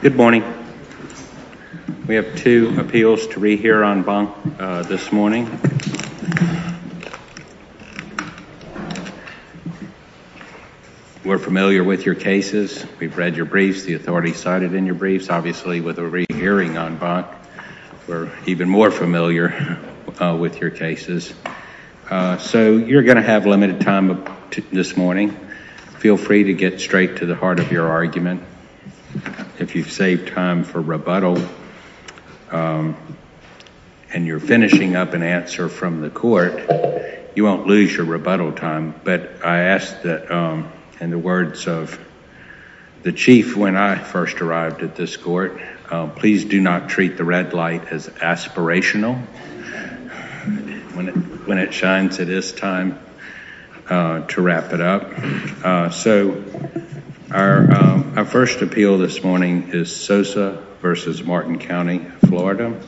Good morning. We have two appeals to rehear on bunk this morning. We're familiar with your cases. We've read your briefs. The authorities cited in your briefs. Obviously with a rehearing on bunk, we're even more familiar with your cases. So you're gonna have limited time this morning. Feel free to get straight to the heart of your argument. If you've saved time for rebuttal and you're finishing up an answer from the court, you won't lose your rebuttal time. But I ask that in the words of the chief when I first arrived at this court, please do not treat the red light as aspirational when it shines at this time to wrap it up. So our first appeal this morning is Sosa v. Martin County, Florida.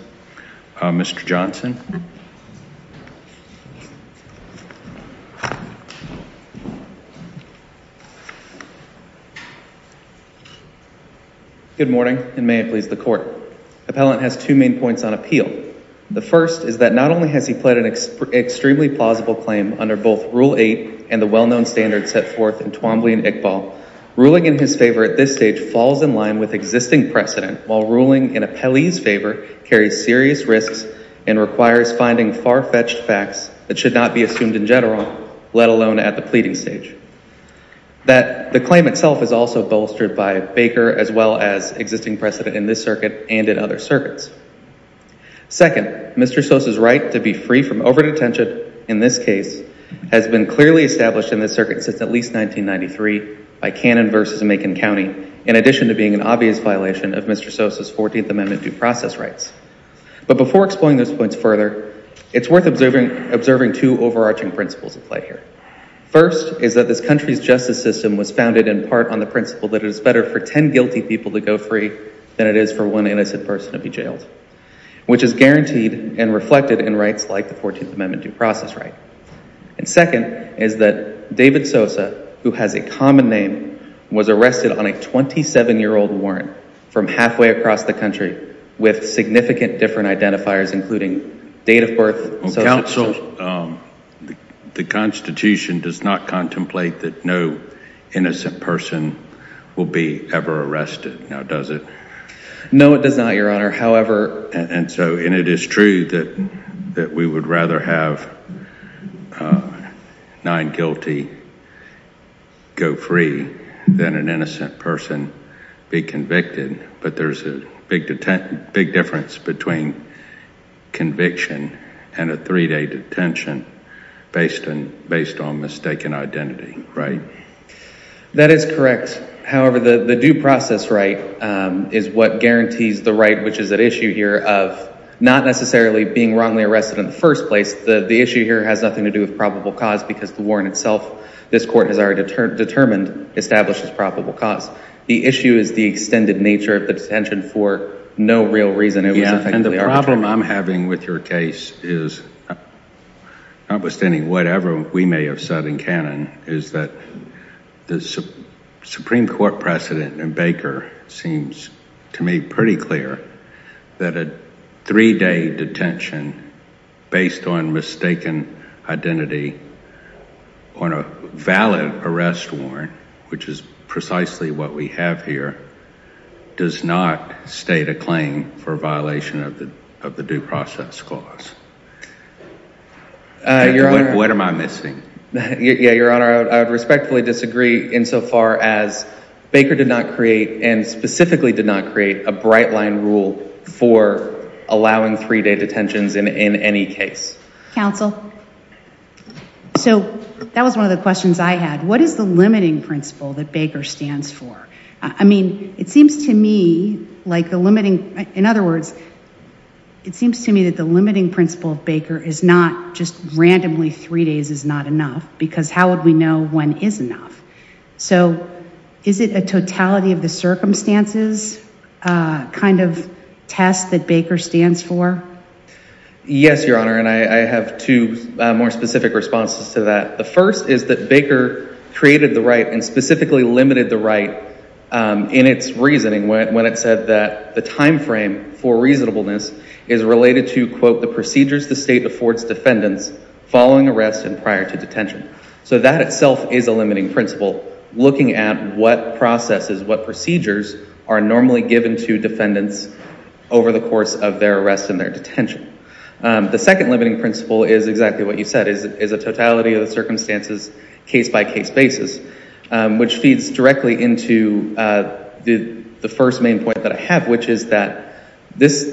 Mr. Johnson. Good morning and may it please the court. Appellant has two main points on appeal. The first is that not only has he pled an extremely plausible claim under both Rule 8 and the well-known standards set forth in Twombly and Iqbal, ruling in his favor at this stage falls in line with existing precedent while ruling in appellee's favor carries serious risks and requires finding far-fetched facts that should not be assumed in general, let alone at the pleading stage. That the claim itself is also bolstered by Baker as well as existing precedent in this circuit and in other circuits. Second, Mr. Sosa's right to be free from over detention in this case has been clearly established in this circuit since at least 1993 by Cannon v. Macon County in addition to being an obvious violation of Mr. Sosa's 14th Amendment due process rights. But before exploring those points further, it's worth observing two overarching principles at play here. First is that this country's justice system was founded in part on the principle that it is better for ten guilty people to go free than it is for one innocent person to be jailed, which is guaranteed and a due process right. And second is that David Sosa, who has a common name, was arrested on a 27-year-old warrant from halfway across the country with significant different identifiers including date of birth. Counsel, the Constitution does not contemplate that no innocent person will be ever arrested, now does it? No, it does not, Your Honor. However, and so and it is true that that we would rather have nine guilty go free than an innocent person be convicted, but there's a big difference between conviction and a three-day detention based on mistaken identity, right? That is correct. However, the due process right is what guarantees the right, which is at issue here of not necessarily being wrongly arrested in the first place, the issue here has nothing to do with probable cause because the warrant itself, this court has already determined, establishes probable cause. The issue is the extended nature of the detention for no real reason. Yeah, and the problem I'm having with your case is, notwithstanding whatever we may have said in canon, is that the Supreme Court precedent and Baker seems to me pretty clear that a three-day detention based on mistaken identity on a valid arrest warrant, which is precisely what we have here, does not state a claim for violation of the due process clause. What am I missing? Yeah, Your Honor, I would respectfully disagree insofar as Baker did not create and specifically did not create a bright-line rule for allowing three-day detentions in any case. Counsel, so that was one of the questions I had. What is the limiting principle that Baker seems to me that the limiting principle of Baker is not just randomly three days is not enough because how would we know when is enough? So is it a totality of the circumstances kind of test that Baker stands for? Yes, Your Honor, and I have two more specific responses to that. The first is that Baker created the right and specifically limited the right in its reasoning when it said that the to quote the procedures the state affords defendants following arrest and prior to detention. So that itself is a limiting principle, looking at what processes, what procedures are normally given to defendants over the course of their arrest and their detention. The second limiting principle is exactly what you said, is a totality of the circumstances case-by-case basis, which feeds directly into the first main point that I have, which is that this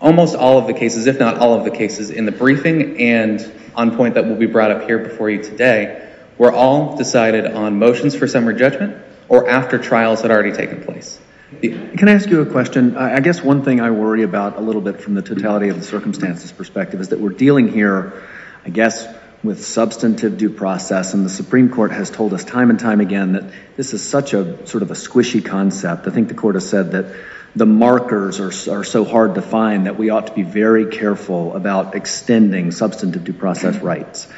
almost all of the cases, if not all of the cases in the briefing and on point that will be brought up here before you today, were all decided on motions for summary judgment or after trials had already taken place. Can I ask you a question? I guess one thing I worry about a little bit from the totality of the circumstances perspective is that we're dealing here, I guess, with substantive due process and the Supreme Court has told us time and time again that this is such a sort of a squishy concept. I think the court has said that the markers are so hard to find that we ought to be very careful about extending substantive due process rights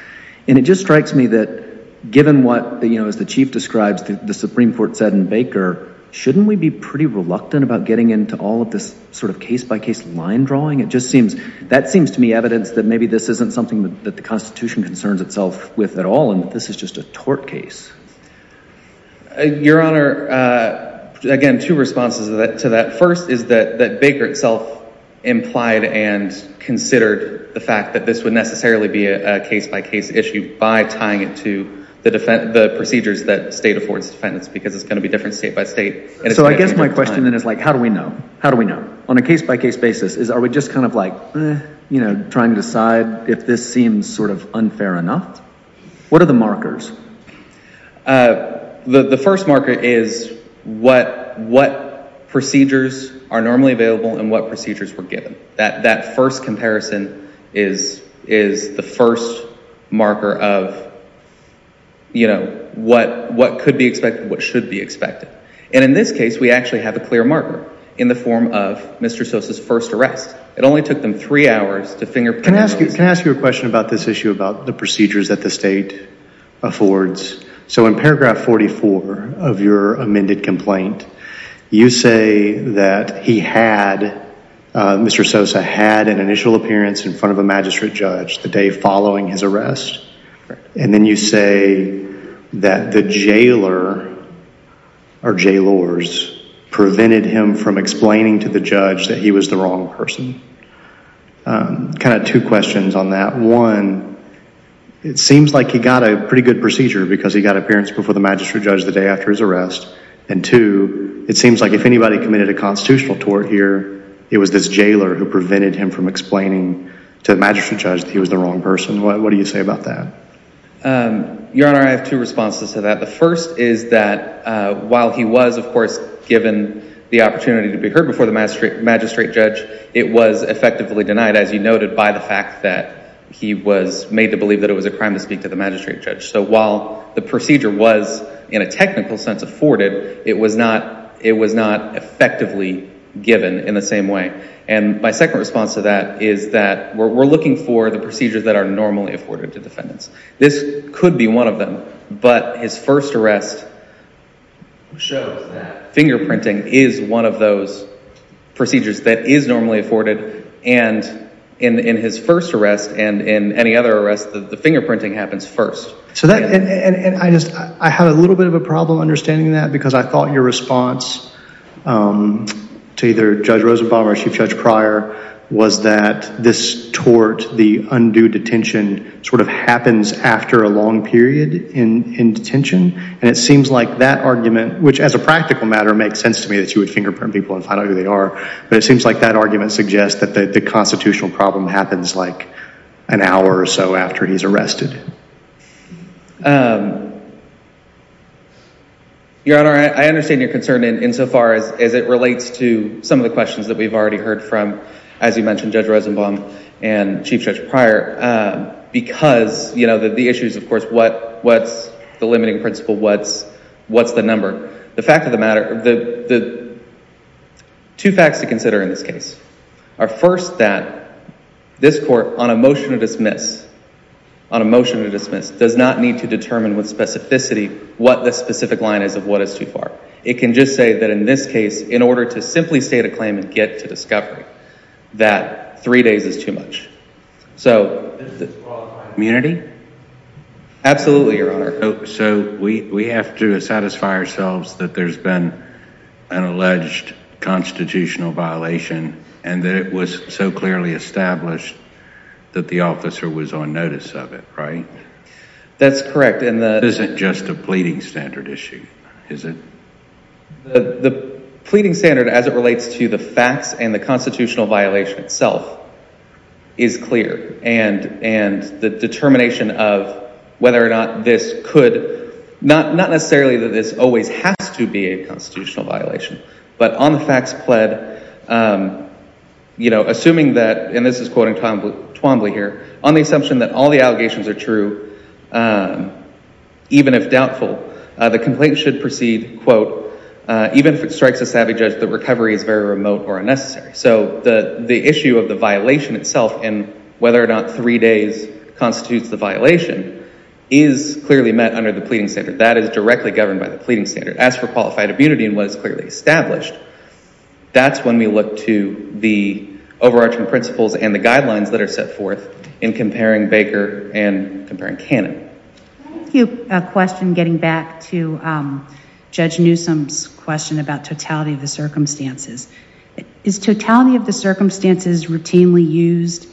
and it just strikes me that given what, you know, as the Chief describes, the Supreme Court said in Baker, shouldn't we be pretty reluctant about getting into all of this sort of case-by-case line drawing? It just seems, that seems to me evidence that maybe this isn't something that the Constitution concerns itself with at all and this is just a tort case. Your Honor, again, two responses to that. First is that Baker itself implied and considered the fact that this would necessarily be a case-by-case issue by tying it to the procedures that state affords defendants because it's going to be different state by state. So I guess my question then is like how do we know? How do we know? On a case-by-case basis is are we just kind of like, you know, trying to decide if this seems sort of unfair enough? What are the markers? The first marker is what, what procedures are normally available and what procedures were given. That, that first comparison is, is the first marker of, you know, what, what could be expected, what should be expected. And in this case we actually have a clear marker in the form of Mr. Sosa's first arrest. It only took them three hours to finger print. Can I ask you, can I ask you a question about this that state affords? So in paragraph 44 of your amended complaint, you say that he had, Mr. Sosa had an initial appearance in front of a magistrate judge the day following his arrest and then you say that the jailer or jailors prevented him from explaining to the judge that he was the wrong person. Kind of two questions on that. One, it seems like he got a pretty good procedure because he got appearance before the magistrate judge the day after his arrest and two, it seems like if anybody committed a constitutional tort here, it was this jailer who prevented him from explaining to the magistrate judge that he was the wrong person. What do you say about that? Your Honor, I have two responses to that. The first is that while he was of course given the opportunity to be heard before the magistrate judge, it was effectively denied as you noted by the fact that he was made to believe that it was a crime to speak to the magistrate judge. So while the procedure was in a technical sense afforded, it was not, it was not effectively given in the same way. And my second response to that is that we're looking for the procedures that are normally afforded to defendants. This could be one of them, but his first arrest shows that fingerprinting is one of those procedures that is normally afforded and in his first arrest and in any other arrest, the fingerprinting happens first. So that, and I just, I have a little bit of a problem understanding that because I thought your response to either Judge Rosenbaum or Chief Judge Pryor was that this tort, the undue detention, sort of happens after a long period in detention and it seems like that argument, which as a practical matter makes sense to me that you would confirm people and find out who they are, but it seems like that argument suggests that the constitutional problem happens like an hour or so after he's arrested. Your Honor, I understand your concern in so far as it relates to some of the questions that we've already heard from, as you mentioned, Judge Rosenbaum and Chief Judge Pryor because, you know, the issues of course, what, what's the limiting principle, what's, what's the number. The fact of the matter, the two facts to consider in this case are first that this court on a motion to dismiss, on a motion to dismiss, does not need to determine with specificity what the specific line is of what is too far. It can just say that in this case, in order to simply state a claim and get to discovery, that three days is too much. So does that disqualify immunity? Absolutely, Your Honor. So we, we have to satisfy ourselves that there's been an alleged constitutional violation and that it was so clearly established that the officer was on notice of it, right? That's correct. And that isn't just a pleading standard issue, is it? The pleading standard as it relates to the constitutional violation itself is clear and, and the determination of whether or not this could, not, not necessarily that this always has to be a constitutional violation, but on the facts pled, you know, assuming that, and this is quoting Twombly here, on the assumption that all the allegations are true, even if doubtful, the complaint should proceed, quote, even if it strikes a remote or unnecessary. So the, the issue of the violation itself and whether or not three days constitutes the violation is clearly met under the pleading standard. That is directly governed by the pleading standard. As for qualified immunity and what is clearly established, that's when we look to the overarching principles and the guidelines that are set forth in comparing Baker and comparing Cannon. Thank you. A question getting back to Judge Newsom's question about totality of the circumstances. Is totality of the circumstances routinely used,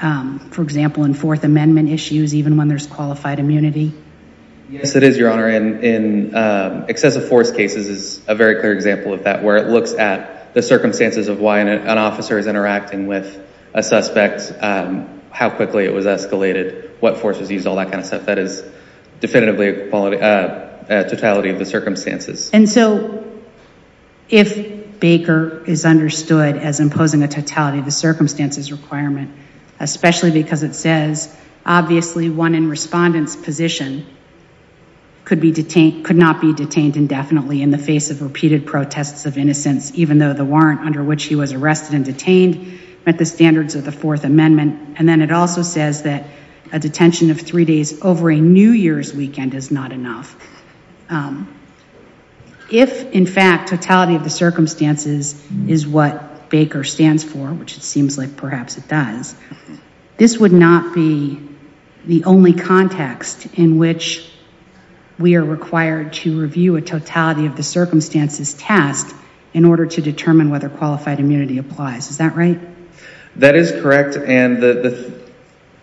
for example, in Fourth Amendment issues, even when there's qualified immunity? Yes, it is, Your Honor, and in excessive force cases is a very clear example of that, where it looks at the circumstances of why an officer is interacting with a suspect, how quickly it was escalated, what force was used, all that kind of stuff. That is definitively a quality, a totality of the circumstances. And so, if Baker is understood as imposing a totality of the circumstances requirement, especially because it says, obviously one in respondent's position could be detained, could not be detained indefinitely in the face of repeated protests of innocence, even though the warrant under which he was arrested and detained met the standards of the Fourth Amendment. And then it also says that a if, in fact, totality of the circumstances is what Baker stands for, which it seems like perhaps it does, this would not be the only context in which we are required to review a totality of the circumstances test in order to determine whether qualified immunity applies. Is that right? That is correct, and a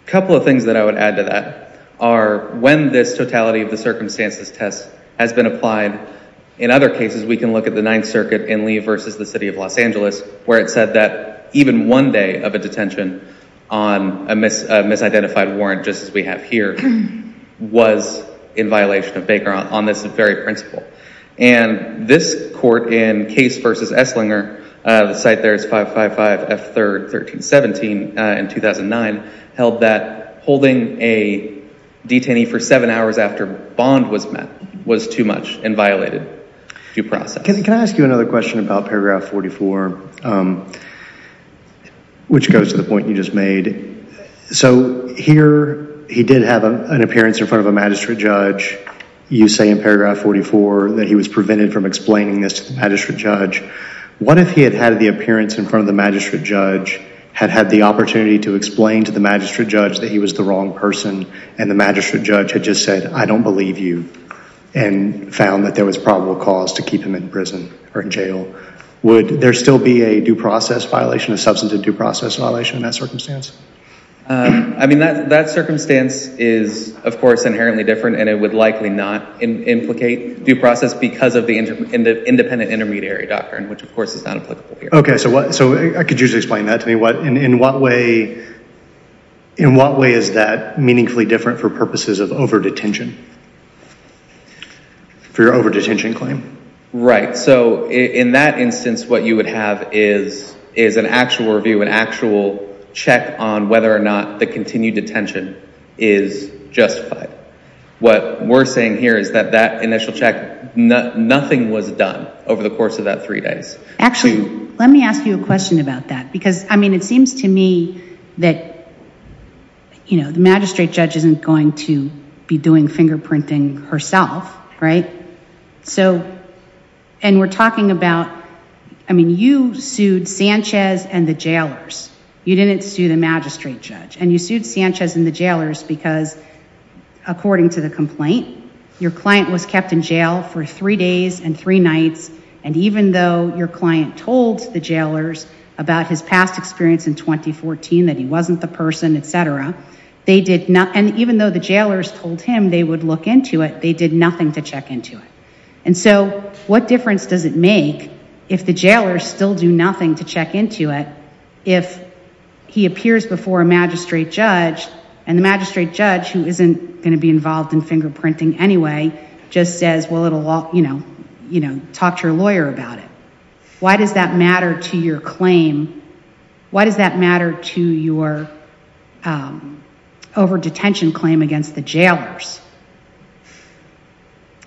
couple of things that I would add to that are when this totality of the circumstances is met, in other cases we can look at the Ninth Circuit in Lee versus the City of Los Angeles, where it said that even one day of a detention on a misidentified warrant, just as we have here, was in violation of Baker on this very principle. And this court in Case versus Esslinger, the site there is 555 F3rd 1317 in 2009, held that holding a detainee for seven hours after bond was met was too much and violated due process. Can I ask you another question about paragraph 44, which goes to the point you just made. So here he did have an appearance in front of a magistrate judge. You say in paragraph 44 that he was prevented from explaining this to the magistrate judge. What if he had had the appearance in front of the magistrate judge, had had the opportunity to explain to the magistrate judge that he was the wrong person, and the magistrate judge had just said, I don't believe you, and found that there was probable cause to keep him in prison or in jail. Would there still be a due process violation, a substantive due process violation in that circumstance? I mean that circumstance is, of course, inherently different and it would likely not implicate due process because of the independent intermediary doctrine, which of course is not applicable here. Okay, so what, so I could usually explain that to me. What, in what way, in what way is that meaningfully different for purposes of over-detention, for your over-detention claim? Right, so in that instance what you would have is an actual review, an actual check on whether or not the continued detention is justified. What we're saying here is that that initial check, nothing was done over the course of that three days. Actually, let me ask you a question about that because, I mean, it seems to me that, you know, the be doing fingerprinting herself, right? So, and we're talking about, I mean, you sued Sanchez and the jailers. You didn't sue the magistrate judge and you sued Sanchez and the jailers because, according to the complaint, your client was kept in jail for three days and three nights and even though your client told the jailers about his past experience in 2014, that he wasn't the him, they would look into it. They did nothing to check into it, and so what difference does it make if the jailers still do nothing to check into it if he appears before a magistrate judge and the magistrate judge, who isn't going to be involved in fingerprinting anyway, just says, well, it'll all, you know, you know, talk to your lawyer about it. Why does that matter to your claim? Why does that matter to your over-detention claim against the jailers?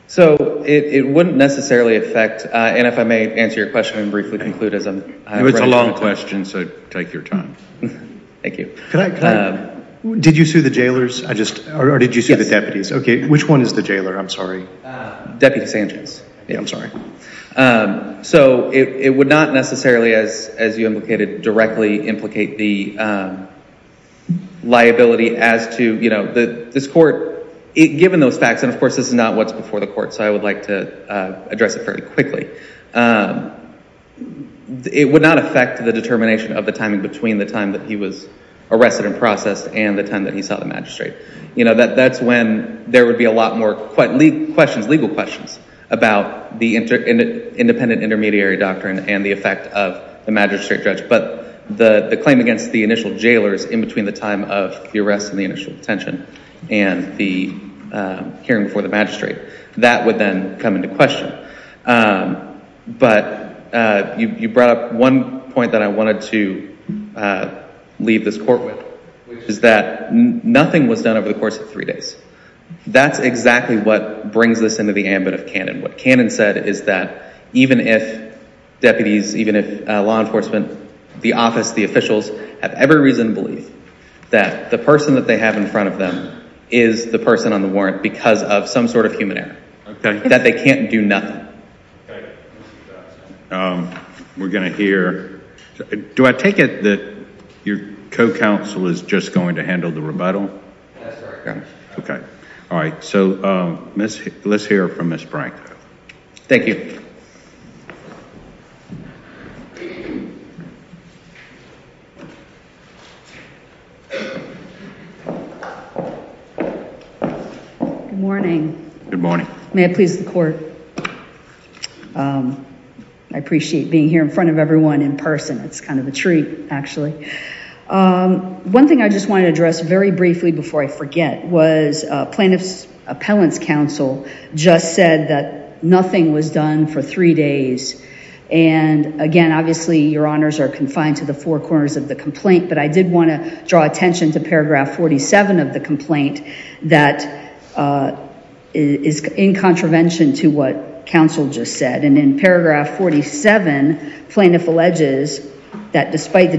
So, it wouldn't necessarily affect, and if I may answer your question and briefly conclude as I'm... It's a long question, so take your time. Thank you. Did you sue the jailers? I just, or did you sue the deputies? Okay, which one is the jailer? I'm sorry. Deputy Sanchez. Yeah, I'm sorry. So, it would not necessarily, as you indicated, directly implicate the liability as to, you know, this court, given those facts, and of course this is not what's before the court, so I would like to address it fairly quickly. It would not affect the determination of the timing between the time that he was arrested and processed and the time that he saw the magistrate. You know, that's when there would be a lot more questions, legal questions, about the independent intermediary doctrine and the effect of the magistrate judge, but the claim against the initial jailers in between the time of the arrest and the initial detention and the hearing before the magistrate, that would then come into question. But you brought up one point that I wanted to leave this court with, which is that nothing was done over the course of three days. That's exactly what brings this into the ambit of Canon. What Canon said is that even if deputies, even if law enforcement, the office, the officials, have every reason to believe that the person that they have in front of them is the person on the warrant because of some sort of human error. Okay. That they can't do nothing. We're gonna hear, do I take it that your co-counsel is just going to handle the rebuttal? Okay. All right. So, let's hear from Ms. Branko. Thank you. Good morning. Good morning. May it please the court. I appreciate being here in front of everyone in person. It's kind of a treat, actually. One thing I just want to address very briefly before I forget was Plaintiff's Appellant's counsel just said that nothing was done for three days. And again, obviously your honors are confined to the four corners of the complaint, but I did want to draw attention to paragraph 47 of the complaint that is in contravention to what counsel just said. And in paragraph 47, plaintiff alleges that despite the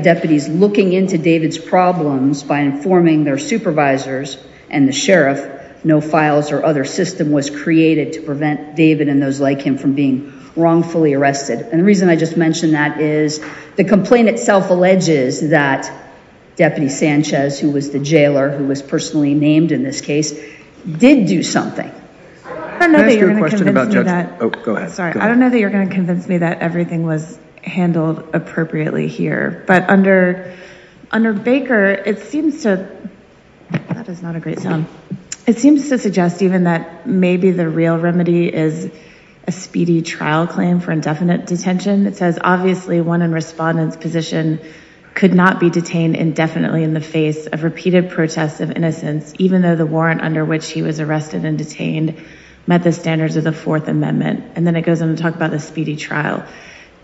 their supervisors and the sheriff, no files or other system was created to prevent David and those like him from being wrongfully arrested. And the reason I just mentioned that is the complaint itself alleges that Deputy Sanchez, who was the jailer who was personally named in this case, did do something. I don't know that you're going to convince me that everything was handled appropriately here, but under Baker, it seems to, that is not a great sound, it seems to suggest even that maybe the real remedy is a speedy trial claim for indefinite detention. It says, obviously one in respondent's position could not be detained indefinitely in the face of repeated protests of innocence, even though the warrant under which he was arrested and detained met the standards of the Fourth Amendment. And then it goes on to talk about the speedy trial.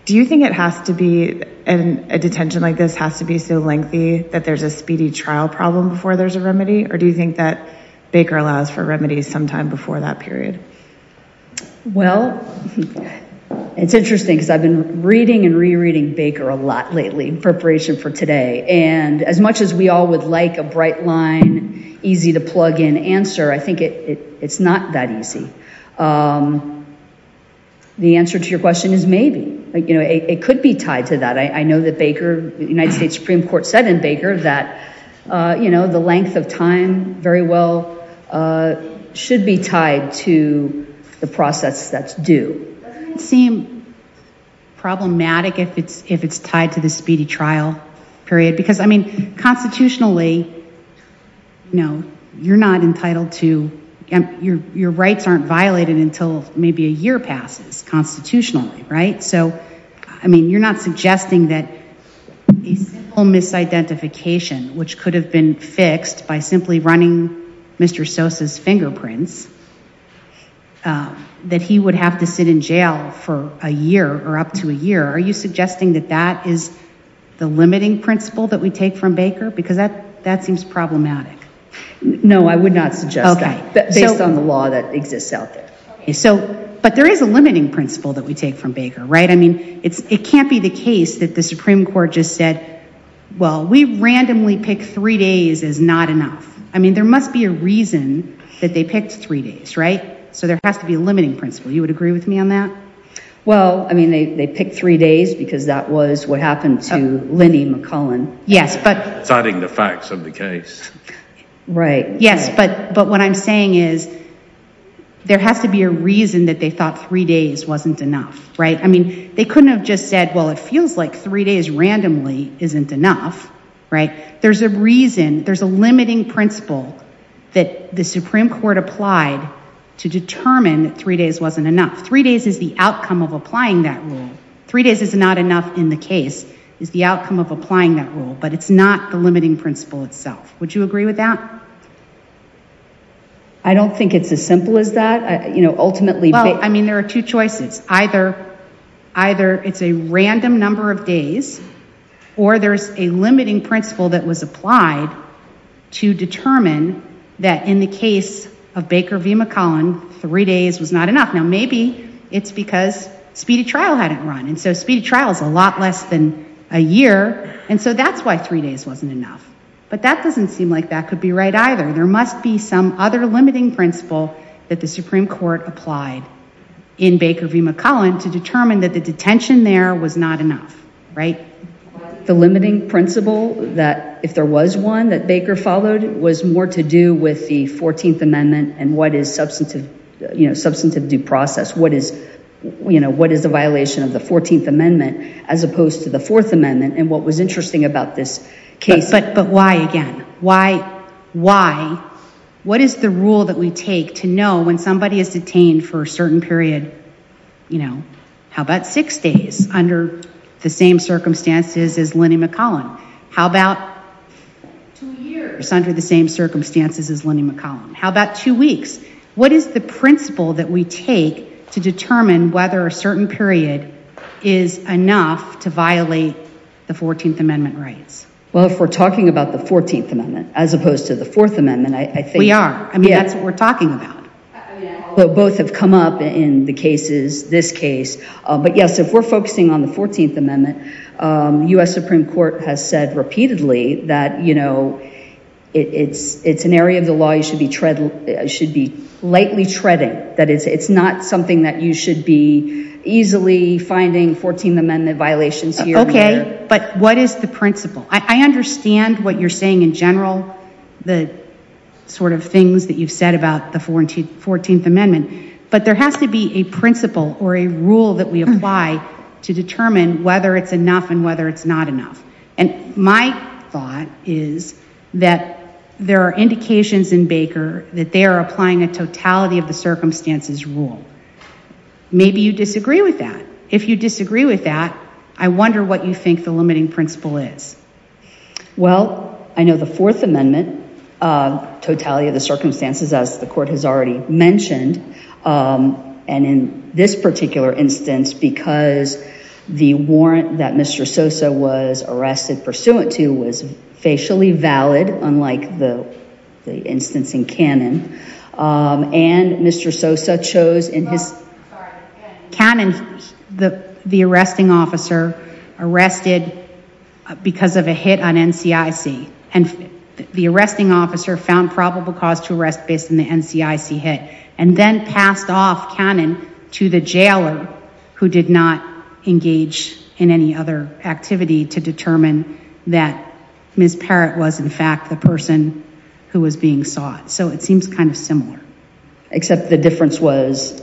Do you think it has to be, a detention like this has to be so lengthy that there's a speedy trial problem before there's a remedy, or do you think that Baker allows for remedies sometime before that period? Well, it's interesting because I've been reading and rereading Baker a lot lately in preparation for today, and as much as we all would like a bright line, easy to plug in answer, I think it's not that the answer to your question is maybe. You know, it could be tied to that. I know that Baker, the United States Supreme Court said in Baker that, you know, the length of time very well should be tied to the process that's due. Doesn't it seem problematic if it's if it's tied to the speedy trial period? Because, I mean, constitutionally, you know, your rights aren't violated until maybe a year passes constitutionally, right? So, I mean, you're not suggesting that a simple misidentification, which could have been fixed by simply running Mr. Sosa's fingerprints, that he would have to sit in jail for a year or up to a year. Are you suggesting that that is the limiting principle that we take from Baker? Because that that seems problematic. No, I agree on the law that exists out there. So, but there is a limiting principle that we take from Baker, right? I mean, it can't be the case that the Supreme Court just said, well, we randomly pick three days is not enough. I mean, there must be a reason that they picked three days, right? So, there has to be a limiting principle. You would agree with me on that? Well, I mean, they picked three days because that was what happened to Linnie McCullin. Yes, but... Citing the facts of the case, there has to be a reason that they thought three days wasn't enough, right? I mean, they couldn't have just said, well, it feels like three days randomly isn't enough, right? There's a reason, there's a limiting principle that the Supreme Court applied to determine that three days wasn't enough. Three days is the outcome of applying that rule. Three days is not enough in the case, is the outcome of applying that rule, but it's not the limiting principle itself. Would you agree with that? I don't think it's as simple as that. You know, ultimately... Well, I mean, there are two choices. Either it's a random number of days, or there's a limiting principle that was applied to determine that in the case of Baker v. McCullin, three days was not enough. Now, maybe it's because speedy trial hadn't run, and so speedy trial is a lot less than a year, and so that's why three days wasn't enough, but that doesn't seem like that could be right either. There must be some other limiting principle that the Supreme Court applied in Baker v. McCullin to determine that the detention there was not enough, right? The limiting principle that, if there was one that Baker followed, was more to do with the 14th Amendment and what is substantive, you know, substantive due process. What is, you know, what is the violation of the 14th Amendment as opposed to the Fourth Amendment, and what was interesting about this case... But why again? Why, why, what is the rule that we take to know when somebody is detained for a certain period, you know, how about six days under the same circumstances as Lenny McCullin? How about two years under the same circumstances as Lenny McCullin? How about two weeks? What is the principle that we take to know that it is enough to violate the 14th Amendment rights? Well, if we're talking about the 14th Amendment as opposed to the Fourth Amendment, I think... We are. I mean, that's what we're talking about. Both have come up in the cases, this case, but yes, if we're focusing on the 14th Amendment, U.S. Supreme Court has said repeatedly that, you know, it's an area of the law you should be tread, should be lightly treading, that it's not something that you should be easily finding 14th Amendment violations here. Okay, but what is the principle? I understand what you're saying in general, the sort of things that you've said about the 14th Amendment, but there has to be a principle or a rule that we apply to determine whether it's enough and whether it's not enough, and my thought is that there are indications in Baker that they are applying a totality of the circumstances rule. Maybe you disagree with that. If you disagree with that, I wonder what you think the limiting principle is. Well, I know the Fourth Amendment totality of the circumstances, as the court has already mentioned, and in this particular instance, because the warrant that Mr. Sosa was arrested pursuant to was facially valid, unlike the instance in Cannon, and Mr. Sosa chose in his... Cannon, the arresting officer, arrested because of a hit on NCIC, and the arresting officer found probable cause to arrest based on the NCIC hit, and then passed off Cannon to the jailer, who did not engage in any other activity to determine that Ms. Parrott was the person who was being sought, so it seems kind of similar. Except the difference was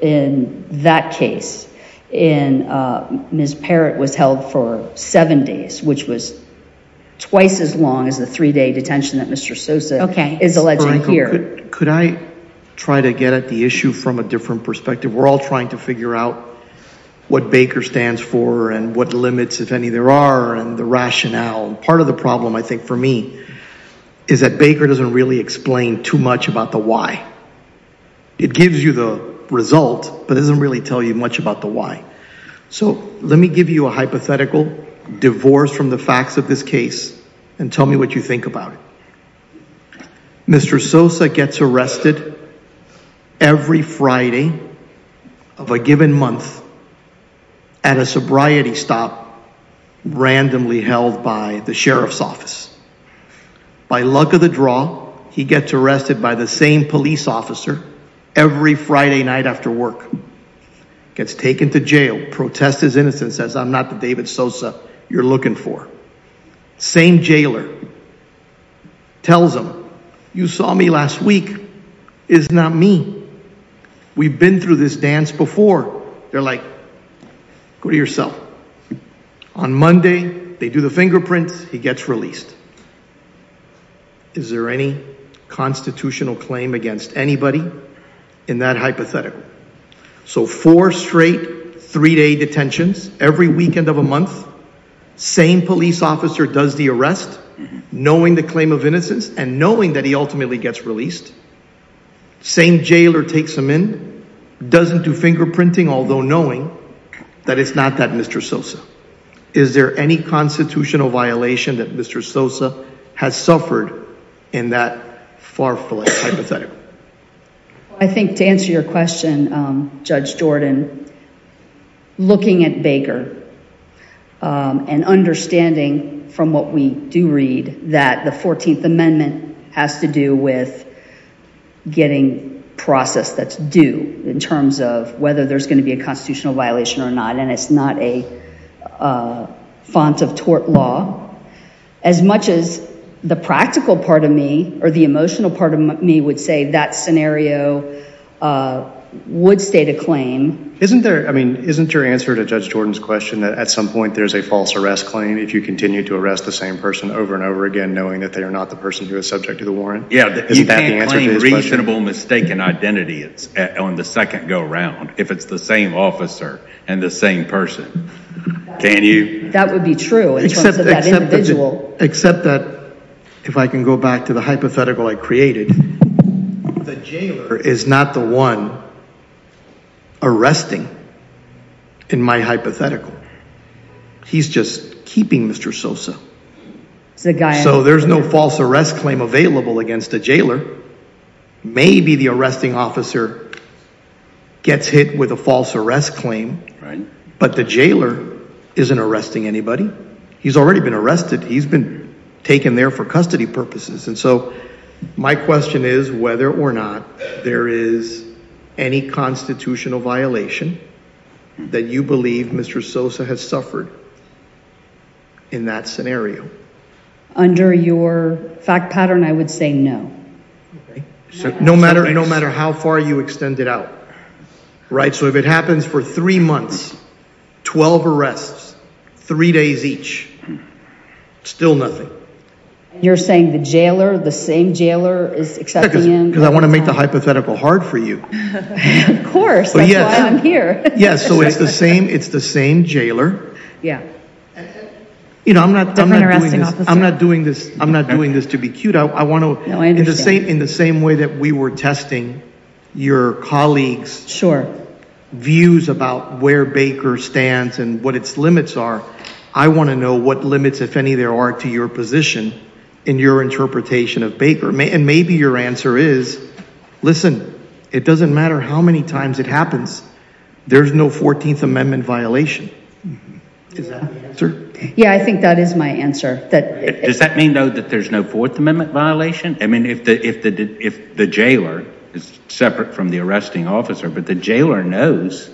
in that case, in Ms. Parrott was held for seven days, which was twice as long as the three-day detention that Mr. Sosa is alleging here. Could I try to get at the issue from a different perspective? We're all trying to figure out what Baker stands for, and what limits, if any, there are, and the is that Baker doesn't really explain too much about the why. It gives you the result, but it doesn't really tell you much about the why. So let me give you a hypothetical, divorced from the facts of this case, and tell me what you think about it. Mr. Sosa gets arrested every Friday of a given month at a sobriety stop randomly held by the sheriff's office. By luck of the draw, he gets arrested by the same police officer every Friday night after work, gets taken to jail, protests his innocence, says I'm not the David Sosa you're looking for. Same jailer tells him, you saw me last week, it's not me. We've been through this before. They're like, go to your cell. On Monday, they do the fingerprints, he gets released. Is there any constitutional claim against anybody in that hypothetical? So four straight three-day detentions every weekend of a month, same police officer does the arrest, knowing the claim of innocence, and knowing that he ultimately gets released. Same jailer takes him in, doesn't do fingerprinting, although knowing that it's not that Mr. Sosa. Is there any constitutional violation that Mr. Sosa has suffered in that far-fledged hypothetical? I think to answer your question, Judge Jordan, looking at Baker and understanding from what we do read, that the 14th Amendment has to do with getting process that's due in terms of whether there's going to be a constitutional violation or not, and it's not a font of tort law. As much as the practical part of me, or the emotional part of me, would say that scenario would state a claim. Isn't there, I mean, isn't your answer to Judge Jordan's question that at some point there's a false arrest claim if you continue to arrest the same person over and over again knowing that they are not the person who is subject to the warrant? Yeah, you can't claim reasonable mistaken identity on the second go-around if it's the same officer and the same person. Can you? That would be true. Except that if I can go back to the hypothetical I created, the jailer is not the one arresting in my hypothetical. He's just keeping Mr. Sosa. So there's no false arrest claim available against a jailer. Maybe the arresting officer gets hit with a false arrest claim, but the jailer isn't arresting anybody. He's already been arrested. He's been taken there for custody purposes, and so my constitutional violation that you believe Mr. Sosa has suffered in that scenario? Under your fact pattern, I would say no. No matter how far you extend it out, right? So if it happens for three months, 12 arrests, three days each, still nothing. You're saying the jailer, the same jailer, is accepting him? Because I want to make the hypothetical hard for you. Of course, that's why I'm here. Yes, so it's the same jailer. Yeah. You know, I'm not doing this to be cute. I want to, in the same way that we were testing your colleagues' views about where Baker stands and what its limits are, I want to know what limits, if any, there are to your position in your answer is, listen, it doesn't matter how many times it happens, there's no 14th Amendment violation. Yeah, I think that is my answer. Does that mean, though, that there's no Fourth Amendment violation? I mean, if the jailer is separate from the arresting officer, but the jailer knows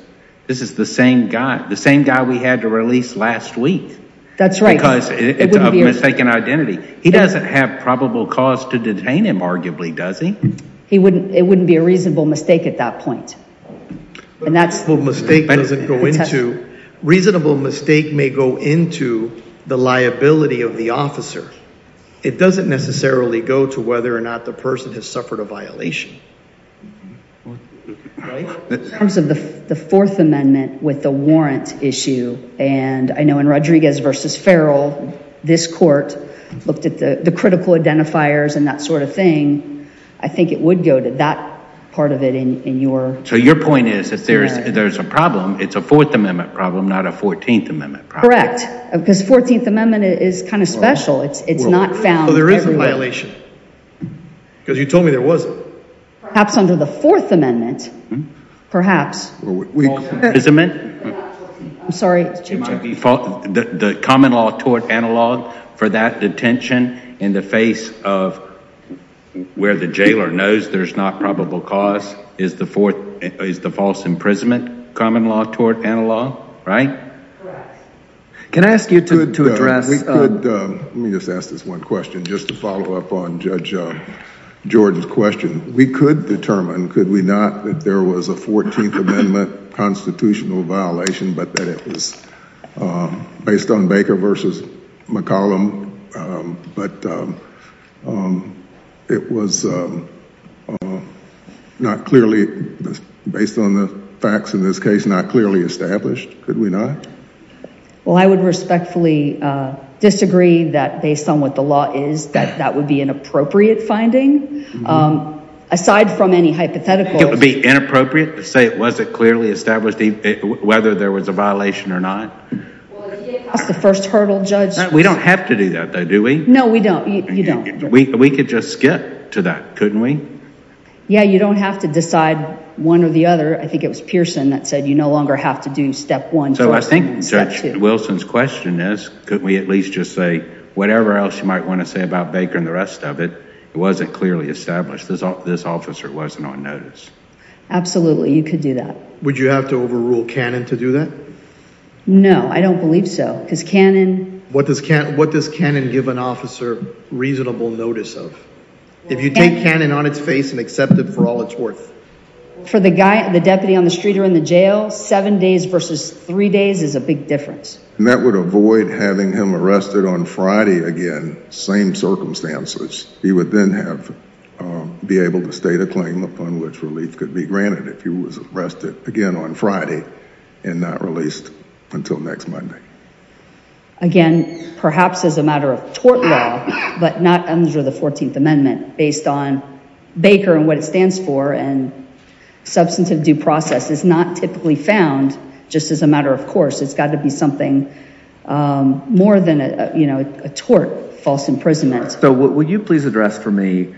this is the same guy, the same guy we had to release last week. That's right. Because it's of mistaken identity. He doesn't have probable cause to detain him, arguably, does he? It wouldn't be a reasonable mistake at that point. Reasonable mistake may go into the liability of the officer. It doesn't necessarily go to whether or not the person has suffered a violation. In terms of the Fourth Amendment with the warrant issue, and I know in Rodriguez v. Farrell, this court looked at the critical identifiers and that sort of thing, I think it would go to that part of it in your... So your point is, if there's a problem, it's a Fourth Amendment problem, not a 14th Amendment problem. Correct, because 14th Amendment is kind of special. It's not found everywhere. So there is a violation, because you told me there wasn't. Perhaps under the Fourth Amendment, perhaps. The common law tort analog for that detention in the face of where the jailer knows there's not probable cause is the false imprisonment common law tort analog, right? Correct. Can I ask you to address... Let me just ask this one question, just to follow up on Judge Jordan's question. We could determine, could we not, that there was a 14th Amendment constitutional violation, but that it was based on Baker v. McCollum, but it was not clearly, based on the facts in this case, not clearly established. Could we not? Well, I would respectfully disagree that based on what the law is, that that would be an inappropriate finding, aside from any hypotheticals. It would be inappropriate to say it wasn't clearly established, whether there was a violation or not? That's the first hurdle, Judge. We don't have to do that, though, do we? No, we don't. You don't. We could just skip to that, couldn't we? Yeah, you don't have to decide one or the other. I think it was Pearson that said you no longer have to do step one. So I think Judge Wilson's question is, could we at least just say whatever else you might want to say about Baker and the rest of it, it wasn't clearly established. This officer wasn't on notice. Absolutely, you could do that. Would you have to overrule Cannon to do that? No, I don't believe so, because Cannon... What does Cannon give an officer reasonable notice of, if you take Cannon on its face and accept it for all it's worth? For the guy, the deputy on the street or in the jail, seven days versus three days is a big difference. And that would avoid having him arrested on Friday again, same circumstances. He would then be able to state a claim upon which relief could be granted if he was arrested again on Friday and not released until next Monday. Again, perhaps as a matter of tort law, but not under the 14th Amendment, based on Baker and what it stands for and substantive due process is not typically found just as a matter of course. It's got to be something more than, you know, a tort, false imprisonment. So would you please address for me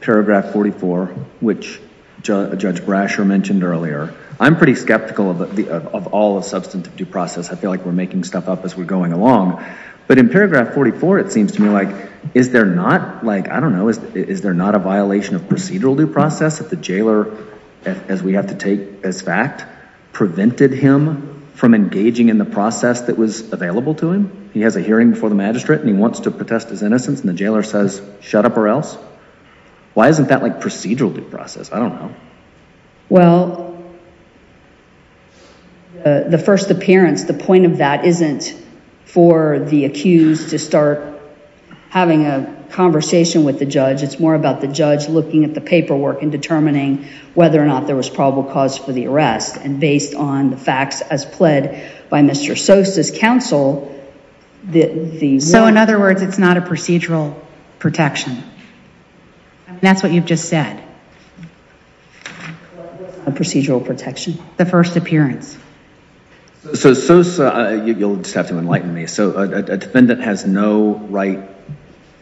paragraph 44, which Judge Brasher mentioned earlier. I'm pretty skeptical of all of substantive due process. I feel like we're making stuff up as we're going along. But in paragraph 44, it seems to me like, is there not, like, I don't know, is there not a violation of procedural due process if the jailer, as we have to take as fact, prevented him from engaging in the process that was available to him? He has a hearing before the magistrate and he wants to protest his innocence and the jailer says shut up or else? Why isn't that like procedural due process? I don't know. Well, the first appearance, the point of that isn't for the accused to start having a conversation with the judge. It's more about the judge looking at the paperwork and determining whether or not there was probable cause for the arrest and based on the facts as pled by Mr. Sosa's counsel. So in other words, it's not a procedural protection. That's what you've just said. A procedural protection. The first appearance. So Sosa, you'll just have to enlighten me, so a defendant has no right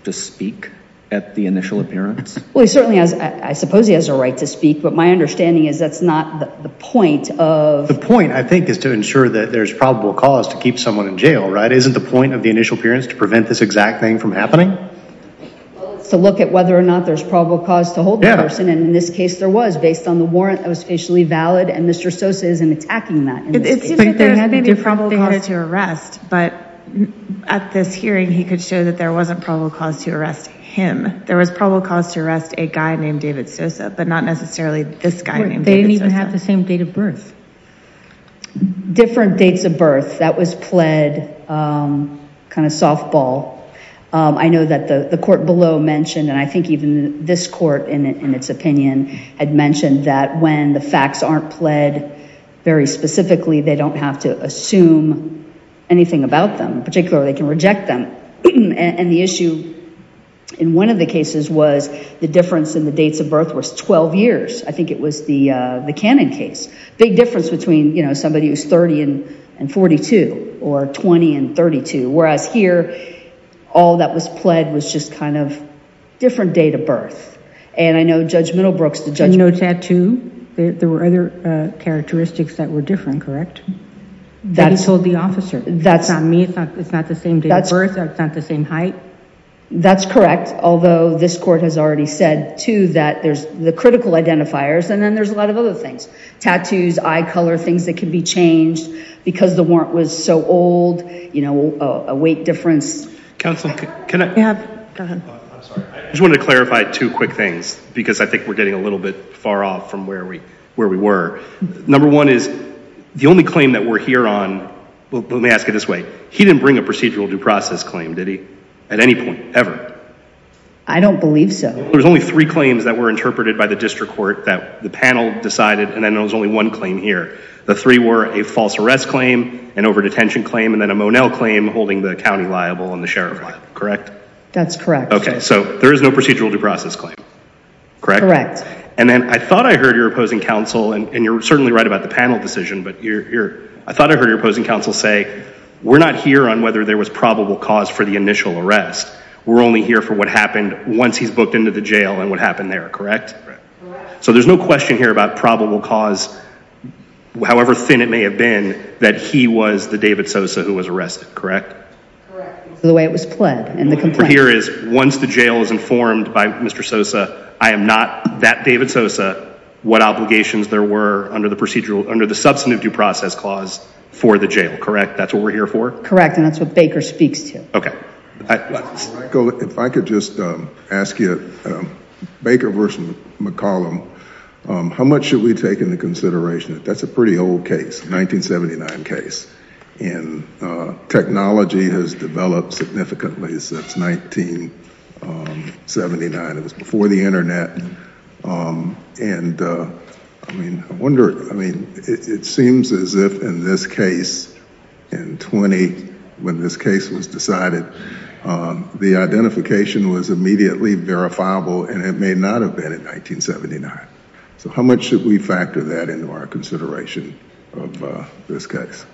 to speak at the initial appearance? Well, he certainly has, I suppose he has a right to speak, but my guess is that's not the point. The point, I think, is to ensure that there's probable cause to keep someone in jail, right? Isn't the point of the initial appearance to prevent this exact thing from happening? To look at whether or not there's probable cause to hold the person and in this case there was based on the warrant that was facially valid and Mr. Sosa isn't attacking that. It seems like there was probable cause to arrest, but at this hearing he could show that there wasn't probable cause to arrest him. There was probable cause to arrest a guy They didn't even have the same date of birth. Different dates of birth. That was pled, kind of softball. I know that the court below mentioned and I think even this court in its opinion had mentioned that when the facts aren't pled very specifically, they don't have to assume anything about them. Particularly, they can reject them and the issue in one of the cases was the difference in the Cannon case. Big difference between, you know, somebody who's 30 and 42 or 20 and 32. Whereas here, all that was pled was just kind of different date of birth and I know Judge Middlebrooks... And no tattoo? There were other characteristics that were different, correct? That he told the officer. That's not me, it's not the same date of birth, it's not the same height. That's correct, although this court has already said, too, that there's the critical identifiers and then there's a lot of other things. Tattoos, eye color, things that can be changed because the warrant was so old, you know, a weight difference. Counsel, can I... I just wanted to clarify two quick things because I think we're getting a little bit far off from where we were. Number one is the only claim that we're here on, let me ask it this way, he didn't bring a procedural due process claim, did he? At least, there's only three claims that were interpreted by the district court that the panel decided and then there was only one claim here. The three were a false arrest claim, an over-detention claim, and then a Monell claim holding the county liable and the sheriff liable, correct? That's correct. Okay, so there is no procedural due process claim, correct? Correct. And then I thought I heard your opposing counsel, and you're certainly right about the panel decision, but I thought I heard your opposing counsel say, we're not here on whether there was probable cause for the initial arrest. We're only here for what happened once he's booked into the jail and what happened there, correct? Correct. So there's no question here about probable cause, however thin it may have been, that he was the David Sosa who was arrested, correct? Correct. The way it was pled and the complaint. Here is, once the jail is informed by Mr. Sosa, I am not that David Sosa, what obligations there were under the procedural, under the substantive due process clause for the jail, correct? That's what we're here for? Correct, and that's what Baker speaks to. Okay. If I could just ask you, Baker versus McCollum, how much should we take into consideration? That's a pretty old case, 1979 case, and technology has developed significantly since 1979. It was before the internet, and I mean, I the identification was immediately verifiable, and it may not have been in 1979. So how much should we factor that into our consideration of this case?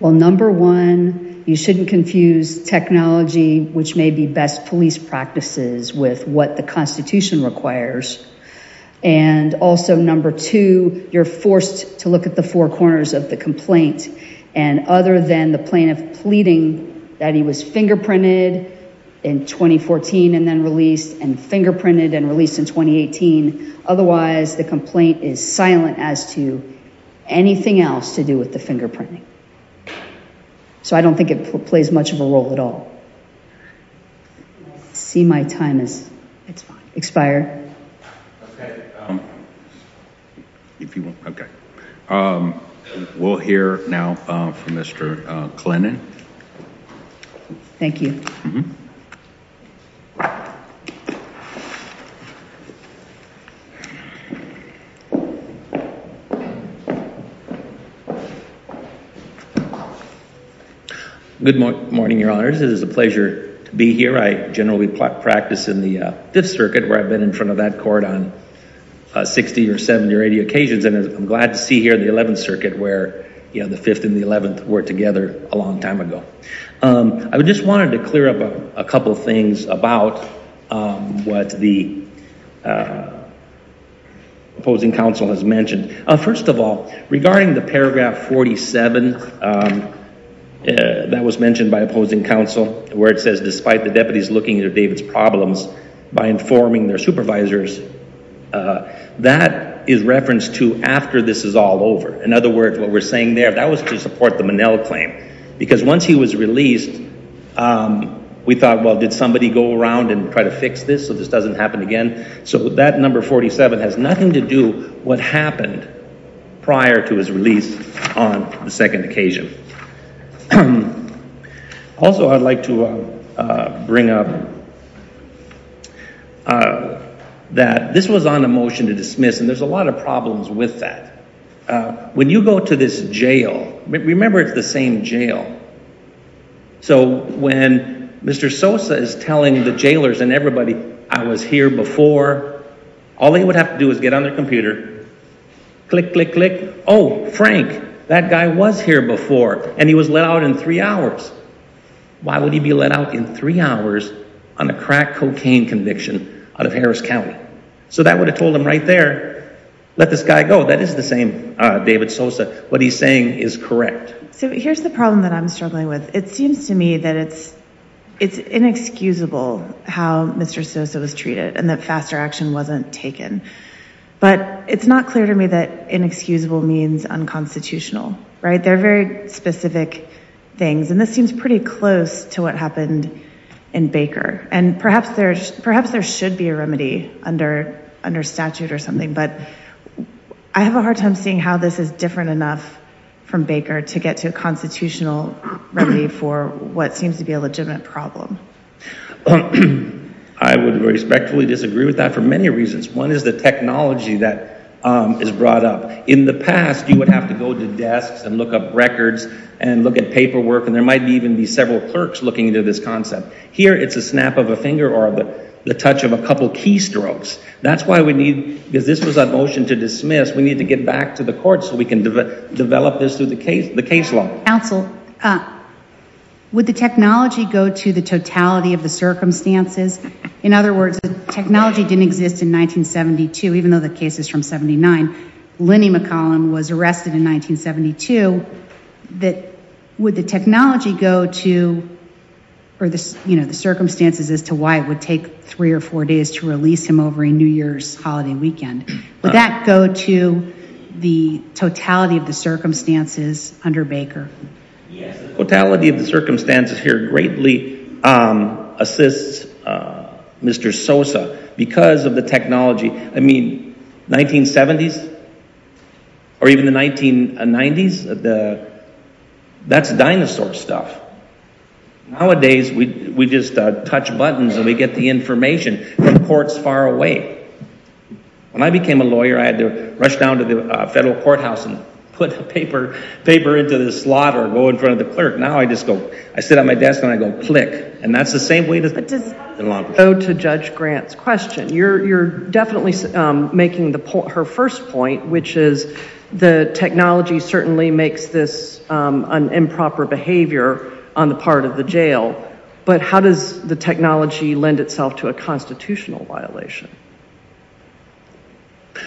Well, number one, you shouldn't confuse technology, which may be best police practices, with what the Constitution requires, and also, number two, you're forced to look at the four corners of the complaint, and other than the was fingerprinted in 2014 and then released, and fingerprinted and released in 2018, otherwise the complaint is silent as to anything else to do with the fingerprinting. So I don't think it plays much of a role at all. See my time has expired. Okay, we'll hear now from Mr. Klinen. Thank you. Good morning, your honors. It is a pleasure to be here. I generally practice in the 5th Circuit, where I've been in front of that court on 60 or 70 or 80 occasions, and I'm glad to see here the 11th Circuit, where, you know, the 5th and the 11th were together a long time ago. I just wanted to clear up a couple of things about what the opposing counsel has mentioned. First of all, regarding the paragraph 47 that was mentioned by opposing counsel, where it says, despite the deputies looking at David's problems by informing their supervisors, that is reference to after this is all over. In other words, what we're saying there, that was to support the Monell claim, because once he was released, we thought, well, did somebody go around and try to fix this so this doesn't happen again? So that number 47 has nothing to do what happened prior to his release on the second occasion. Also, I'd like to bring up that this was on a motion to dismiss, and there's a lot of problems with that. When you go to this jail, remember it's the same jail, so when Mr. Sosa is telling the jailors and everybody, I was here before, all they would have to do is get on their I was here before, and he was let out in three hours. Why would he be let out in three hours on a crack cocaine conviction out of Harris County? So that would have told him right there, let this guy go. That is the same David Sosa. What he's saying is correct. So here's the problem that I'm struggling with. It seems to me that it's inexcusable how Mr. Sosa was treated and that faster action wasn't taken, but it's not clear to me that inexcusable means unconstitutional, right? They're very specific things, and this seems pretty close to what happened in Baker, and perhaps there should be a remedy under statute or something, but I have a hard time seeing how this is different enough from Baker to get to a constitutional remedy for what seems to be a legitimate problem. I would respectfully disagree with that for many reasons. One is the technology that is brought up. In the past, you would have to go to desks and look up records and look at paperwork, and there might even be several clerks looking into this concept. Here, it's a snap of a finger or the touch of a couple keystrokes. That's why we need, because this was a motion to dismiss, we need to get back to the court so we can develop this through the case law. Counsel, would the technology go to the totality of the circumstances under Baker? Yes, the totality of the circumstances here greatly assists Mr. Sosa because of the technology. I mean, 1970s or even the 1990s, that's dinosaur stuff. Nowadays, we just touch buttons and we get the information from courts far away. When I became a lawyer, I had to rush down to the federal courthouse and put a paper into the slot or go in front of the clerk. Now, I just go, I sit at my desk and I go click, and that's the same way. To judge Grant's question, you're definitely making her first point, which is the technology certainly makes this an improper behavior on the part of the jail, but how does the technology lend itself to a constitutional violation?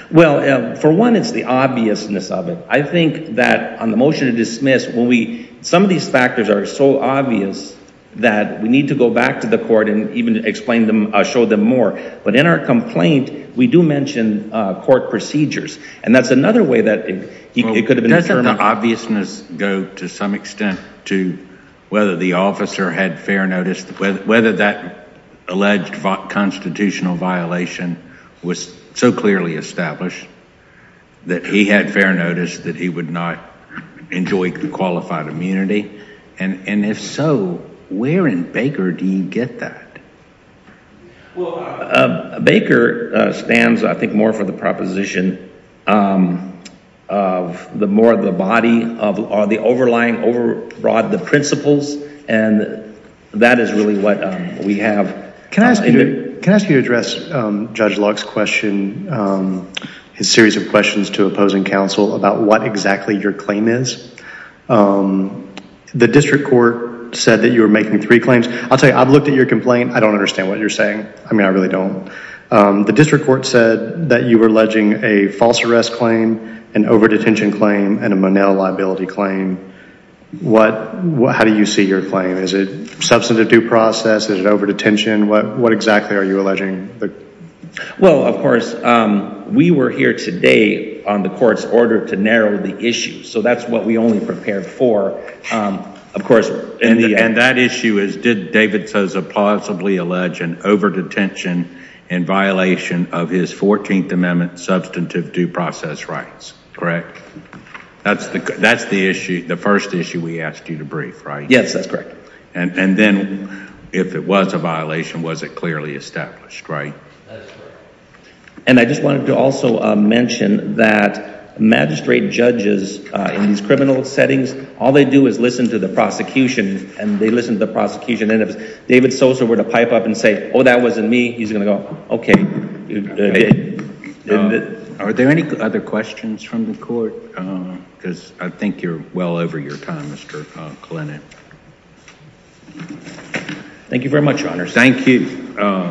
Well, for one, it's the obviousness of it. I think that on the motion to dismiss, when we, some of these factors are so obvious that we need to go back to the court and even explain them, show them more, but in our complaint, we do mention court procedures, and that's another way that it could have been determined. Doesn't the obviousness go to some extent to whether the officer had fair notice, whether that alleged constitutional violation was so clearly established that he had and if so, where in Baker do you get that? Well, Baker stands, I think, more for the proposition of the more of the body of the overlying, over broad the principles and that is really what we have. Can I ask you to address Judge Luck's question, his series of questions to opposing counsel about what exactly your district court said that you were making three claims. I'll tell you, I've looked at your complaint. I don't understand what you're saying. I mean, I really don't. The district court said that you were alleging a false arrest claim, an over-detention claim, and a Monell liability claim. What, how do you see your claim? Is it substantive due process? Is it over-detention? What exactly are you alleging? Well, of course, we were here today on the court's order to narrow the issue, so that's what we only prepared for, of course. And that issue is, did David Sousa possibly allege an over-detention in violation of his 14th Amendment substantive due process rights, correct? That's the, that's the issue, the first issue we asked you to brief, right? Yes, that's correct. And then if it was a violation, was it clearly established, right? And I just wanted to also mention that magistrate judges, in these criminal settings, all they do is listen to the prosecution, and they listen to the prosecution. And if David Sousa were to pipe up and say, oh, that wasn't me, he's gonna go, okay. Are there any other questions from the court? Because I think you're well over your time, Mr. Kalenek. Thank you very much, Your Honor. Thank you.